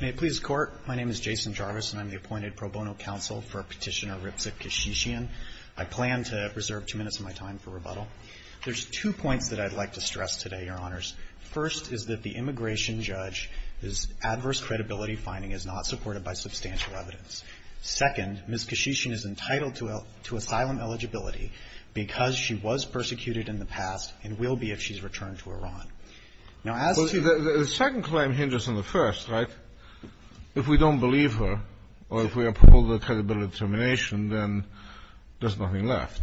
May it please the Court, my name is Jason Jarvis, and I'm the appointed pro bono counsel for Petitioner Ripza Keshishian. I plan to reserve two minutes of my time for rebuttal. There's two points that I'd like to stress today, Your Honors. First is that the immigration judge's adverse credibility finding is not supported by substantial evidence. Second, Ms. Keshishian is entitled to asylum eligibility because she was persecuted in the past and will be if she's returned to Iran. Now, as to the ---- KENSHISHAN The second claim hinders on the first, right? If we don't believe her or if we uphold her credibility determination, then there's nothing left.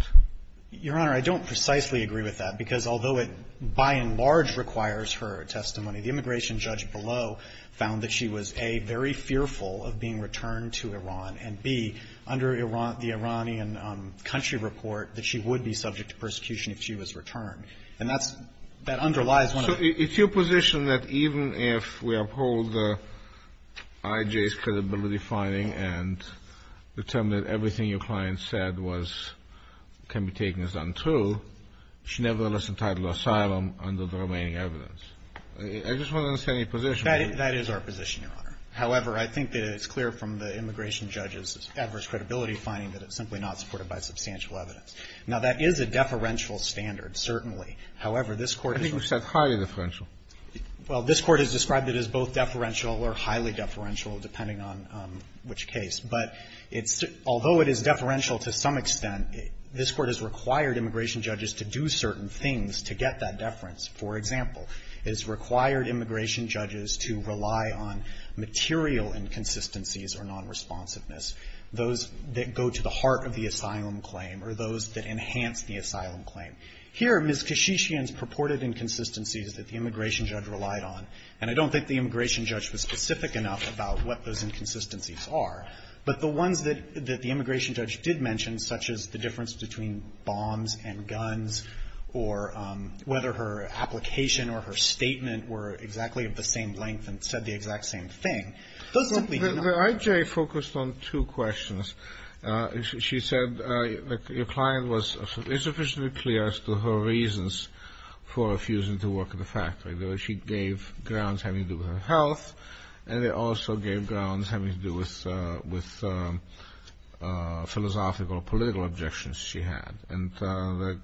GONZALES Your Honor, I don't precisely agree with that because although it by and large requires her testimony, the immigration judge below found that she was, A, very fearful of being returned to Iran, and, B, under the Iranian country report, that she would be subject to persecution if she was returned. And that's – that underlies KENSHISHAN So it's your position that even if we uphold I.J.'s credibility finding and determine that everything your client said was – can be taken as untrue, she nevertheless entitled to asylum under the remaining evidence. I just want to understand your position. GONZALES That is our position, Your Honor. However, I think that it's clear from the immigration judge's adverse credibility finding that it's simply not supported by substantial evidence. Now, that is a deferential standard, certainly. However, this Court is – RENAN I think you said highly deferential. GONZALES Well, this Court has described it as both deferential or highly deferential, depending on which case. But it's – although it is deferential to some extent, this Court has required immigration judges to do certain things to get that deference. For example, it has required immigration judges to rely on material inconsistencies or nonresponsiveness, those that go to the heart of the asylum claim or those that enhance the asylum claim. Here, Ms. Keshishian's purported inconsistencies that the immigration judge relied on, and I don't think the immigration judge was specific enough about what those inconsistencies are, but the ones that the immigration judge did mention, such as the difference between bombs and guns or whether her application or her statement were exactly of the same length and said the exact same thing, those simply do not I.J. focused on two questions. She said the client was insufficiently clear as to her reasons for refusing to work at the factory. She gave grounds having to do with her health, and they also gave grounds having to do with philosophical or political objections she had. And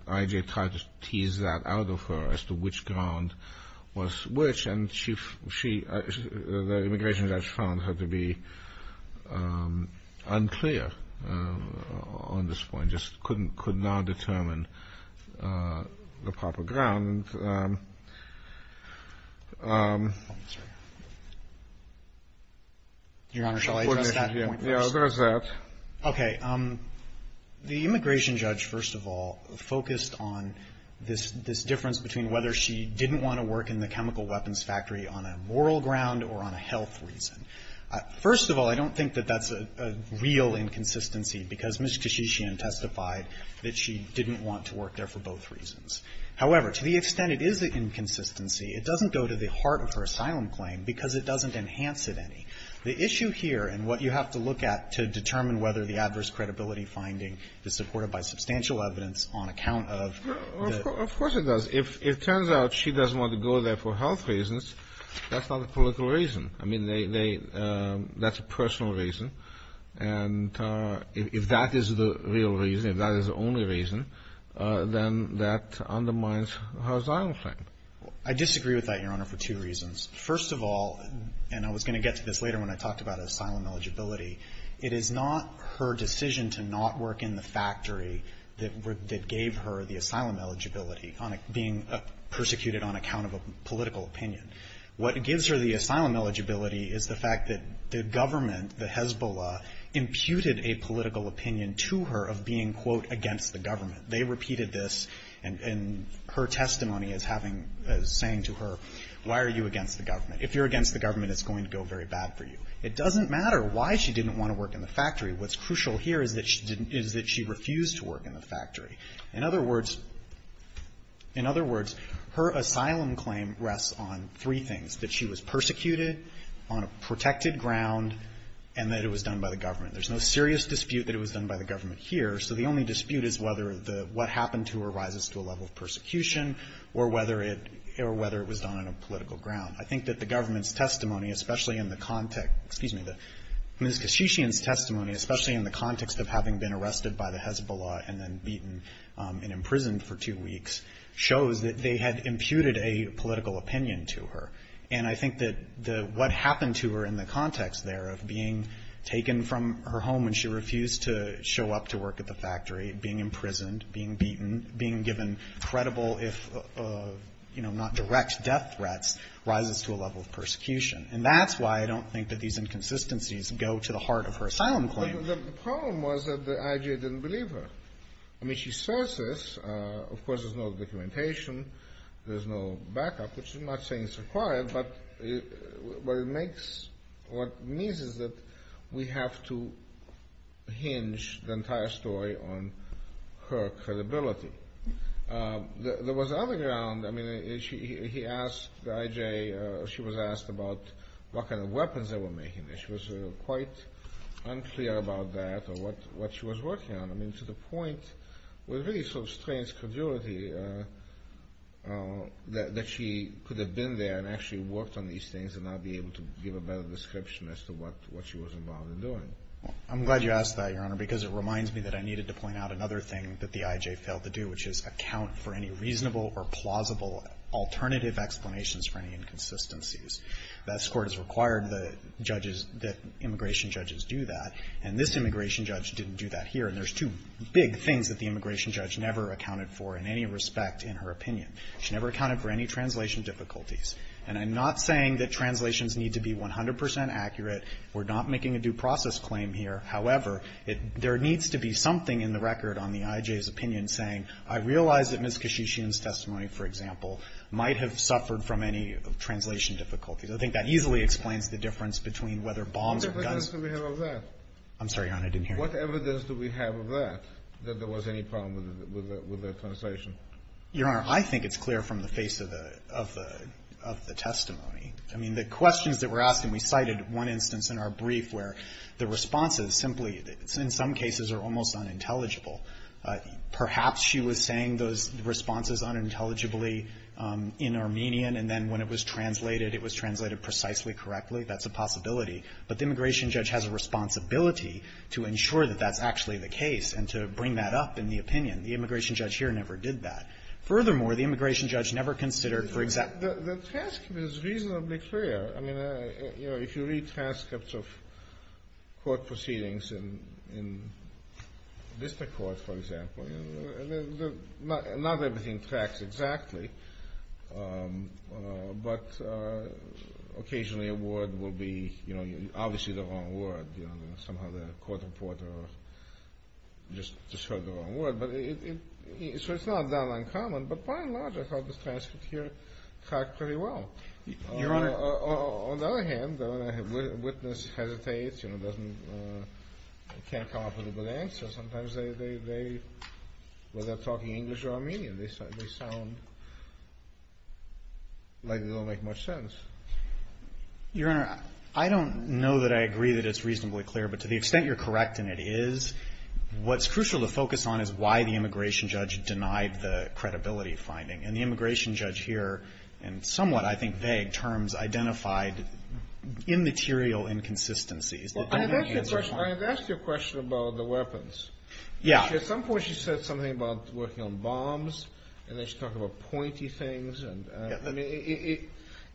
I.J. tried to tease that out of her as to which ground was to be unclear on this point, just couldn't, could not determine the proper ground. Your Honor, shall I address that point first? Yeah, address that. Okay. The immigration judge, first of all, focused on this difference between whether she didn't want to work in the chemical weapons factory on a moral ground or on a health reason. First of all, I don't think that that's a real inconsistency, because Ms. Kashishian testified that she didn't want to work there for both reasons. However, to the extent it is an inconsistency, it doesn't go to the heart of her asylum claim because it doesn't enhance it any. The issue here and what you have to look at to determine whether the adverse credibility finding is supported by substantial evidence on account of the ---- Of course it does. If it turns out she doesn't want to go there for health reasons, that's not a political reason. I mean, they, they, that's a personal reason. And if that is the real reason, if that is the only reason, then that undermines her asylum claim. I disagree with that, Your Honor, for two reasons. First of all, and I was going to get to this later when I talked about asylum eligibility, it is not her decision to not work in the factory that gave her the asylum eligibility on a, being persecuted on account of a political opinion. What gives her the asylum eligibility is the fact that the government, the Hezbollah, imputed a political opinion to her of being, quote, against the government. They repeated this in, in her testimony as having, as saying to her, why are you against the government? If you're against the government, it's going to go very bad for you. It doesn't matter why she didn't want to work in the factory. What's crucial here is that she refused to work in the factory. In other words, in other words, her asylum claim rests on three things, that she was persecuted, on a protected ground, and that it was done by the government. There's no serious dispute that it was done by the government here. So the only dispute is whether the, what happened to her rises to a level of persecution or whether it, or whether it was done on a political ground. I think that the government's testimony, especially in the context, excuse me, Ms. Kashishian's testimony, especially in the context of having been arrested by the Hezbollah and then beaten and imprisoned for two weeks, shows that they had imputed a political opinion to her. And I think that the, what happened to her in the context there of being taken from her home and she refused to show up to work at the factory, being imprisoned, being beaten, being given credible, if, you know, not direct death threats, rises to a level of persecution. And that's why I don't think that these inconsistencies go to the heart of her asylum claim. The problem was that the IJ didn't believe her. I mean, she says this, of course, there's no documentation, there's no backup, which is not saying it's required, but what it makes, what it means is that we have to hinge the entire story on her credibility. There was other ground, I mean, he asked the IJ, she was asked about what kind of weapons they were making. She was quite unclear about that or what she was working on. I mean, to the point, it was really sort of strange credulity that she could have been there and actually worked on these things and not be able to give a better description as to what she was involved in doing. I'm glad you asked that, Your Honor, because it reminds me that I needed to point out another thing that the IJ failed to do, which is account for any reasonable or plausible alternative explanations for any inconsistencies. This Court has required the judges, that immigration judges do that, and this immigration judge didn't do that here. And there's two big things that the immigration judge never accounted for in any respect in her opinion. She never accounted for any translation difficulties. And I'm not saying that translations need to be 100 percent accurate. We're not making a due process claim here. However, there needs to be something in the record on the IJ's opinion saying, I realize that Ms. Kashishian's testimony, for example, might have suffered from any translation difficulties. I think that easily explains the difference between whether bombs or guns or the other. Kennedy, I'm sorry, Your Honor, I didn't hear you. Kennedy, what evidence do we have of that, that there was any problem with the translation? Your Honor, I think it's clear from the face of the testimony. I mean, the questions that were asked, and we cited one instance in our brief where the responses simply, in some cases, are almost unintelligible. Perhaps she was saying those responses unintelligibly in Armenian, and then when it was translated, it was translated precisely correctly. That's a possibility. But the immigration judge has a responsibility to ensure that that's actually the case and to bring that up in the opinion. The immigration judge here never did that. Furthermore, the immigration judge never considered, for example the task was reasonably clear. I mean, you know, if you read transcripts of court proceedings in district court, for example, not everything tracks exactly, but occasionally a word will be, you know, obviously the wrong word. You know, somehow the court reporter just heard the wrong word. So it's not that uncommon, but by and large, I thought the transcript here tracked pretty well. Your Honor. On the other hand, the witness hesitates, you know, doesn't can't come up with a good answer. Sometimes they, whether they're talking English or Armenian, they sound like they don't make much sense. Your Honor, I don't know that I agree that it's reasonably clear, but to the extent you're correct, and it is, what's crucial to focus on is why the immigration judge denied the credibility finding. And the immigration judge here, in somewhat, I think, vague terms, identified immaterial inconsistencies. Well, I had asked you a question about the weapons. Yeah. At some point she said something about working on bombs, and then she talked about pointy things. And I mean,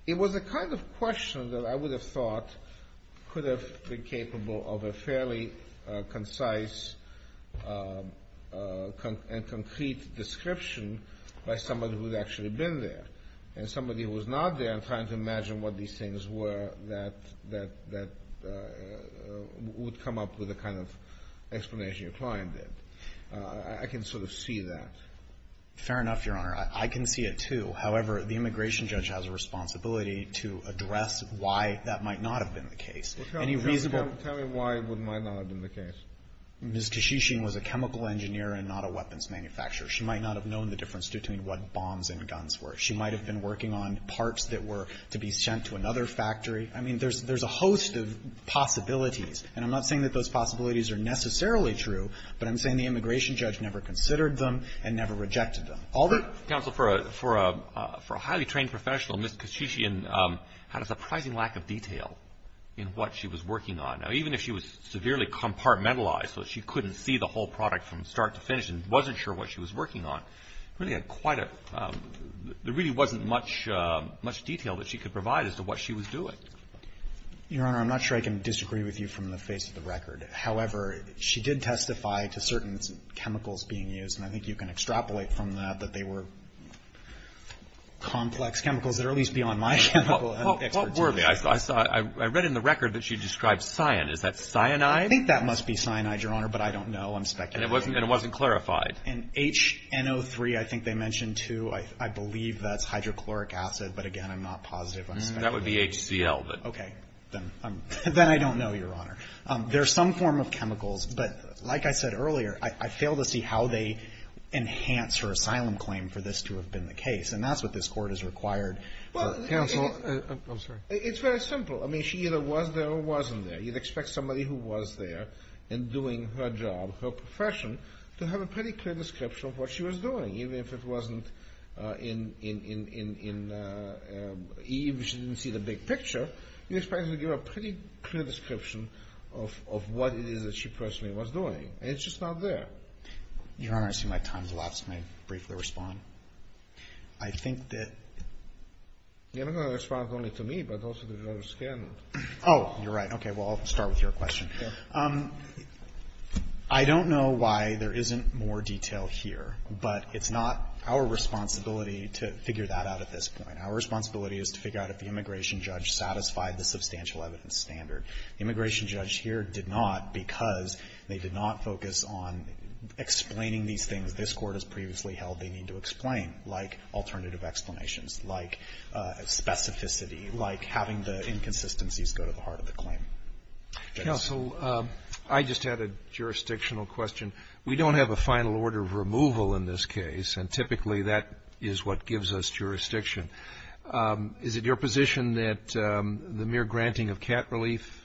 it was the kind of question that I would have thought could have been the case. And somebody who was not there and trying to imagine what these things were that would come up with a kind of explanation, your client did, I can sort of see that. Fair enough, Your Honor. I can see it, too. However, the immigration judge has a responsibility to address why that might not have been the case. Tell me why it might not have been the case. Ms. Kashishian was a chemical engineer and not a weapons manufacturer. She might not have known the difference between what bombs and guns were. She might have been working on parts that were to be sent to another factory. I mean, there's a host of possibilities. And I'm not saying that those possibilities are necessarily true, but I'm saying the immigration judge never considered them and never rejected them. All the -- Counsel, for a highly trained professional, Ms. Kashishian had a surprising lack of detail in what she was working on. Now, even if she was severely compartmentalized, so she couldn't see the whole product from start to finish and wasn't sure what she was working on, really had quite a -- there really wasn't much detail that she could provide as to what she was doing. Your Honor, I'm not sure I can disagree with you from the face of the record. However, she did testify to certain chemicals being used, and I think you can extrapolate from that that they were complex chemicals that are at least beyond my chemical expertise. Well, what were they? I saw it. I read in the record that she described cyan. Is that cyanide? I think that must be cyanide, Your Honor, but I don't know. I'm speculating. And it wasn't clarified. And HNO3, I think they mentioned, too. I believe that's hydrochloric acid, but again, I'm not positive. I'm speculating. That would be HCL, but -- Okay. Then I don't know, Your Honor. There's some form of chemicals, but like I said earlier, I fail to see how they enhance her asylum claim for this to have been the case, and that's what this Court has required for counsel. I'm sorry. It's very simple. I mean, she either was there or wasn't there. You'd expect somebody who was there and doing her job, her profession, to have a pretty clear description of what she was doing. Even if it wasn't in, even if she didn't see the big picture, you'd expect her to give a pretty clear description of what it is that she personally was doing. And it's just not there. Your Honor, it seems like time's elapsed. May I briefly respond? I think that- You're not going to respond only to me, but also to Judge Scanlon. Oh, you're right. Okay. Well, I'll start with your question. I don't know why there isn't more detail here, but it's not our responsibility to figure that out at this point. Our responsibility is to figure out if the immigration judge satisfied the substantial evidence standard. The immigration judge here did not because they did not focus on explaining these things this Court has previously held they need to explain, like alternative explanations, like specificity, like having the inconsistencies go to the heart of the claim. Counsel, I just had a jurisdictional question. We don't have a final order of removal in this case, and typically that is what gives us jurisdiction. Is it your position that the mere granting of cat relief,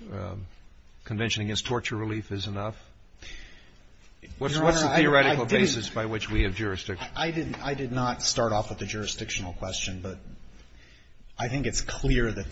convention against torture relief, is enough? Your Honor, I did- What's the theoretical basis by which we have jurisdiction? I did not start off with a jurisdictional question, but I think it's clear that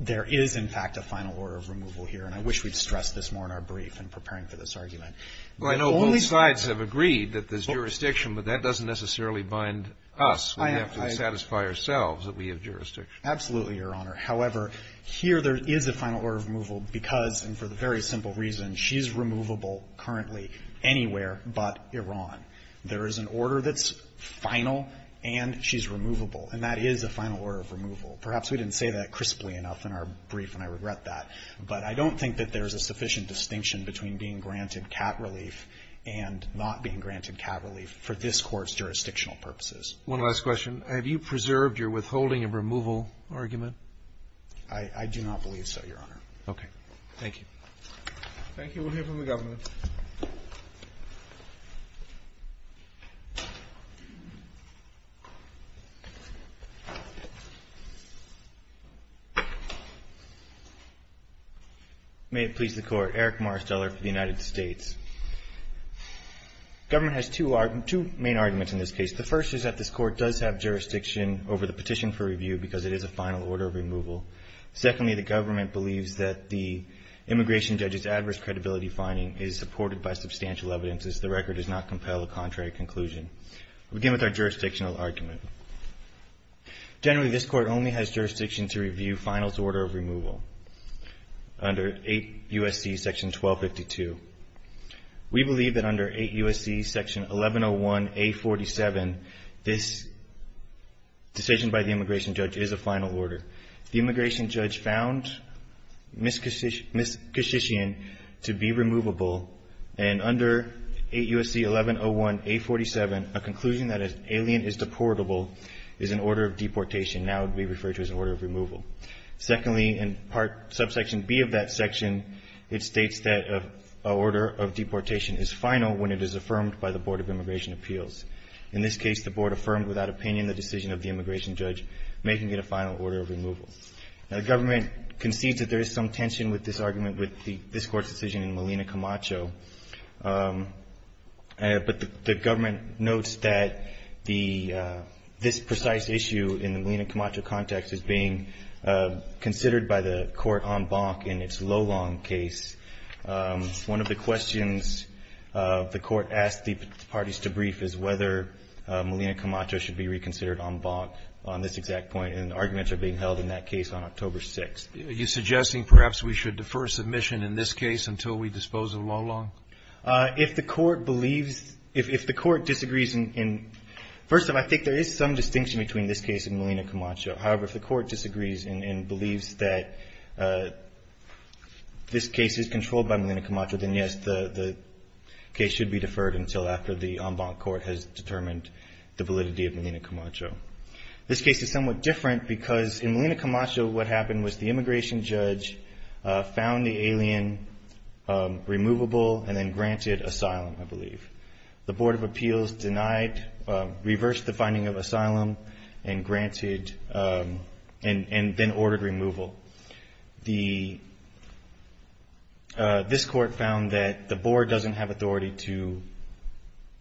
there is, in fact, a final order of removal here, and I wish we'd stress this more in our brief in preparing for this argument. Well, I know both sides have agreed that there's jurisdiction, but that doesn't necessarily bind us. We have to satisfy ourselves that we have jurisdiction. Absolutely, Your Honor. However, here there is a final order of removal because, and for the very simple reason, she's removable currently anywhere but Iran. There is an order that's final and she's removable, and that is a final order of removal. Perhaps we didn't say that crisply enough in our brief, and I regret that, but I don't think that there's a sufficient distinction between being granted cat relief and not being granted cat relief for this Court's jurisdictional purposes. One last question. Have you preserved your withholding of removal argument? I do not believe so, Your Honor. Okay. Thank you. Thank you. We'll hear from the government. May it please the Court. Eric Marsteller for the United States. The government has two main arguments in this case. The first is that this Court does have jurisdiction over the petition for review because it is a final order of removal. Secondly, the government believes that the immigration judge's adverse credibility finding is supported by substantial evidence as the record does not compel a contrary conclusion. We'll begin with our jurisdictional argument. Generally, this Court only has jurisdiction to review finals order of removal under 8 U.S.C. Section 1252. We believe that under 8 U.S.C. Section 1101A47, this decision by the immigration judge is a final order. The immigration judge found Miskashishian to be removable, and under 8 U.S.C. 1101A47, a conclusion that an alien is deportable is an order of deportation. Now it would be referred to as an order of removal. Secondly, in Subsection B of that section, it states that an order of deportation is final when it is affirmed by the Board of Immigration Appeals. In this case, the Board affirmed without opinion the decision of the immigration judge, making it a final order of removal. The government concedes that there is some tension with this argument with this Court's decision in Molina Camacho, but the government notes that this precise issue in the Molina Camacho context is being considered by the Court en banc in its Lolong case. One of the questions the Court asked the parties to brief is whether Molina Camacho should be reconsidered en banc on this exact point, and arguments are being held in that case on October 6th. Are you suggesting perhaps we should defer submission in this case until we dispose of Lolong? If the Court believes — if the Court disagrees in — first of all, I think there is some distinction between this case and Molina Camacho. However, if the Court disagrees and believes that this case is controlled by Molina Camacho, then, yes, the case should be deferred until after the en banc court has determined the validity of Molina Camacho. This case is somewhat different because in Molina Camacho what happened was the immigration judge found the alien removable and then granted asylum, I believe. The Board of Appeals denied — reversed the finding of asylum and granted — and then ordered removal. This Court found that the Board doesn't have authority to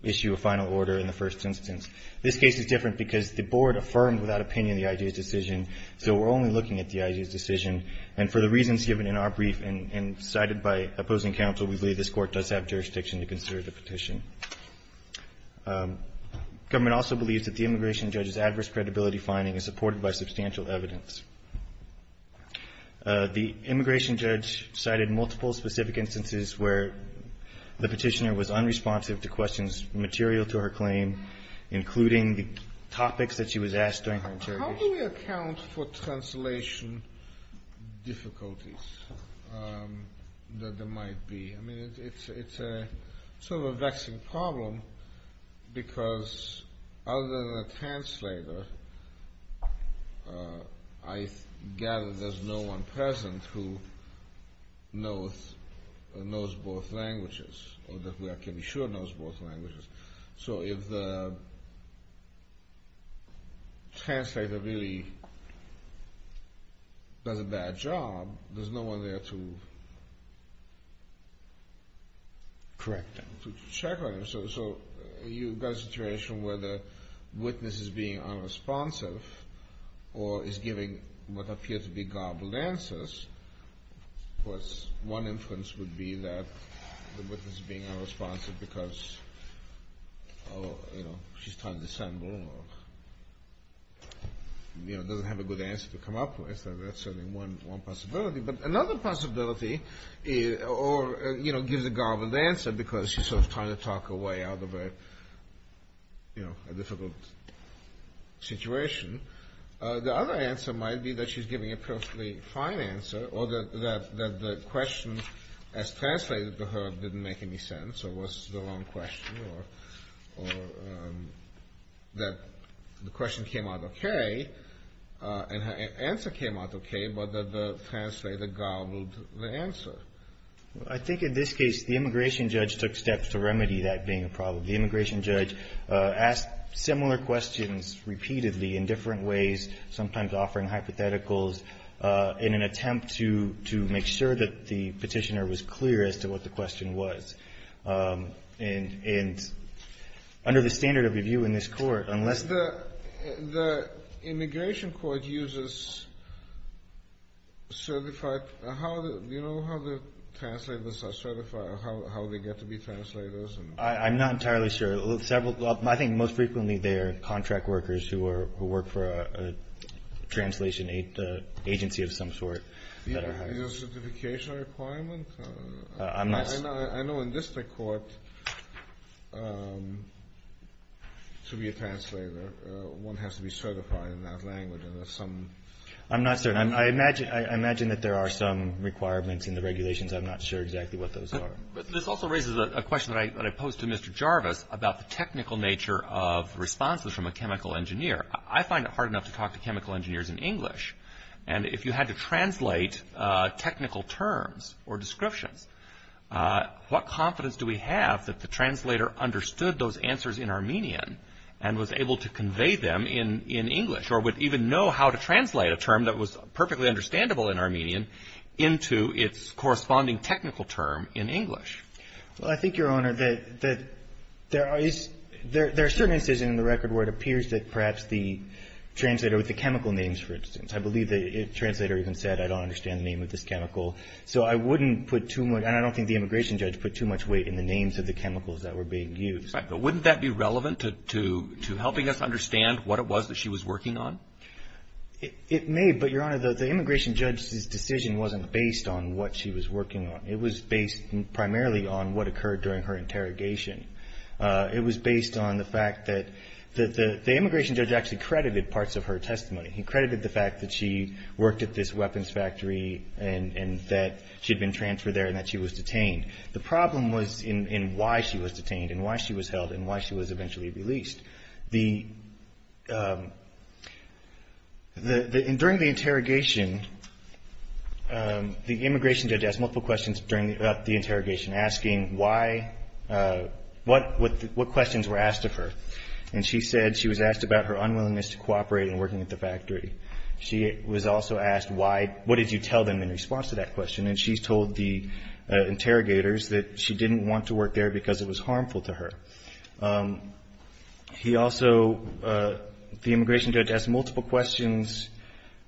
issue a final order in the first instance. This case is different because the Board affirmed without opinion the IG's decision, so we're only looking at the IG's decision. And for the reasons given in our brief and cited by opposing counsel, we believe this Court does have jurisdiction to consider the petition. Government also believes that the immigration judge's adverse credibility finding is supported by substantial evidence. The immigration judge cited multiple specific instances where the petitioner was unresponsive with the questions material to her claim, including the topics that she was asked during her interrogation. How do we account for translation difficulties that there might be? I mean, it's sort of a vexing problem because other than a translator, I gather there's no one present who knows both languages, or that we can be sure knows both languages. So if the translator really does a bad job, there's no one there to correct them, to check on them. So you've got a situation where the witness is being unresponsive or is giving what appears to be garbled answers. Of course, one inference would be that the witness is being unresponsive because, oh, you know, she's trying to assemble or, you know, doesn't have a good answer to come up with. That's certainly one possibility. But another possibility, or, you know, gives a garbled answer because she's sort of trying to talk her way out of a, you know, a difficult situation. The other answer might be that she's giving a perfectly fine answer, or that the question as translated to her didn't make any sense, or was the wrong question, or that the question came out okay, and her answer came out okay, but that the translator garbled the answer. Well, I think in this case, the immigration judge took steps to remedy that being a problem. The immigration judge asked similar questions repeatedly in different ways, sometimes offering hypotheticals in an attempt to make sure that the petitioner was clear as to what the question was. And under the standard of review in this court, unless the... The immigration court uses certified... Do you know how the translators are certified, or how they get to be translators? I'm not entirely sure. I think most frequently they are contract workers who work for a translation agency of some sort that are hired. Is there a certification requirement? I'm not... I know in this court, to be a translator, one has to be certified in that language, and there's some... I'm not certain. I imagine that there are some requirements in the regulations. I'm not sure exactly what those are. This also raises a question that I posed to Mr. Jarvis about the technical nature of responses from a chemical engineer. I find it hard enough to talk to chemical engineers in English, and if you had to translate technical terms or descriptions, what confidence do we have that the translator understood those answers in Armenian and was able to convey them in English, or would even know how to translate a term that was perfectly understandable in Armenian into its corresponding technical term in English? Well, I think, Your Honor, that there is... There are certain instances in the record where it appears that perhaps the translator with the chemical names, for instance, I believe the translator even said, I don't understand the name of this chemical. So I wouldn't put too much... And I don't think the immigration judge put too much weight in the names of the chemicals that were being used. Right. But wouldn't that be relevant to helping us understand what it was that she was working on? It may, but, Your Honor, the immigration judge's decision wasn't based on what she was working on. It was based primarily on what occurred during her interrogation. It was based on the fact that... The immigration judge actually credited parts of her testimony. He credited the fact that she worked at this weapons factory and that she had been transferred there and that she was detained. The problem was in why she was detained and why she was held and why she was eventually released. During the interrogation, the immigration judge asked multiple questions about the interrogation, asking what questions were asked of her. And she said she was asked about her unwillingness to cooperate in working at the factory. She was also asked, what did you tell them in response to that question? And she told the interrogators that she didn't want to work there because it was harmful to her. He also... The immigration judge asked multiple questions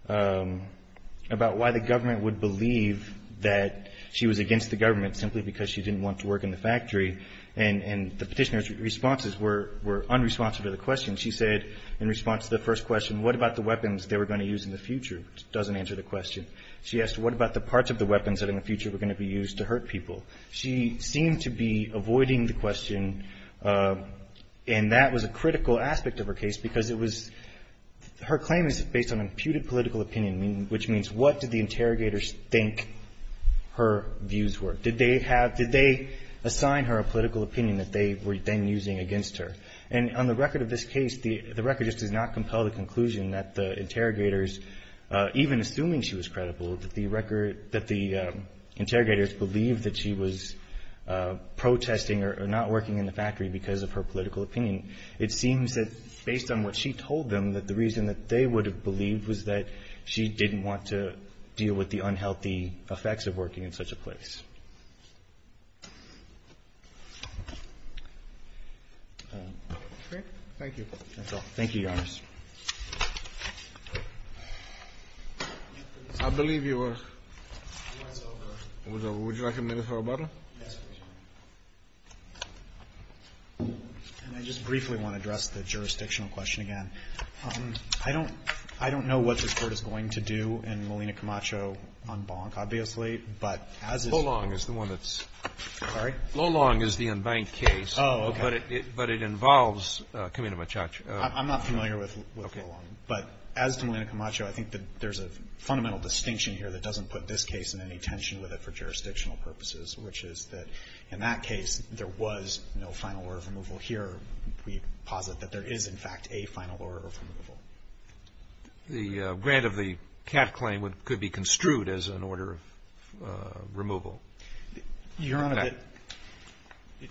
about why the government would believe that she was against the government simply because she didn't want to work in the factory. And the petitioner's responses were unresponsive to the question. She said in response to the first question, what about the weapons they were going to use in the future? Doesn't answer the question. She asked, what about the parts of the weapons that in the future were going to be used to hurt people? She seemed to be avoiding the question, and that was a critical aspect of her case because it was... Her claim is based on imputed political opinion, which means what did the interrogators think her views were? Did they assign her a political opinion that they were then using against her? And on the record of this case, the record just does not compel the conclusion that the interrogators, even assuming she was credible, that the interrogators believed that she was protesting or not working in the factory because of her political opinion. It seems that based on what she told them, that the reason that they would have believed was that she didn't want to deal with the unhealthy effects of working in such a place. Thank you. Thank you, Your Honor. I believe you were... It was over. It was over. Would you like a minute for rebuttal? Yes, Your Honor. And I just briefly want to address the jurisdictional question again. I don't know what this court is going to do in Molina Camacho on Bonk, obviously, but as is... Lolong is the one that's... Sorry? Lolong is the unbanked case. Oh, okay. But it involves Camino Machacho. I'm not familiar with that. I'm not familiar with Lolong. Okay. But as to Molina Camacho, I think that there's a fundamental distinction here that doesn't put this case in any tension with it for jurisdictional purposes, which is that in that case, there was no final order of removal. Here, we posit that there is, in fact, a final order of removal. The grant of the cat claim could be construed as an order of removal. Your Honor,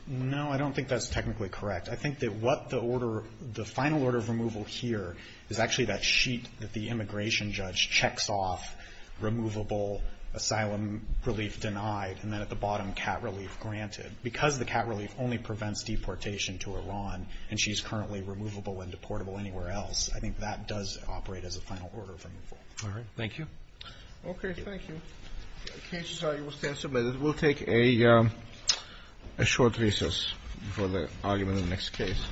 no, I don't think that's technically correct. I think that what the order, the final order of removal here is actually that sheet that the immigration judge checks off, removable, asylum relief denied, and then at the bottom, cat relief granted. Because the cat relief only prevents deportation to Iran, and she's currently removable and deportable anywhere else, I think that does operate as a final order of removal. All right. Thank you. Okay. Thank you. The case will stand submitted. We'll take a short recess for the argument in the next case.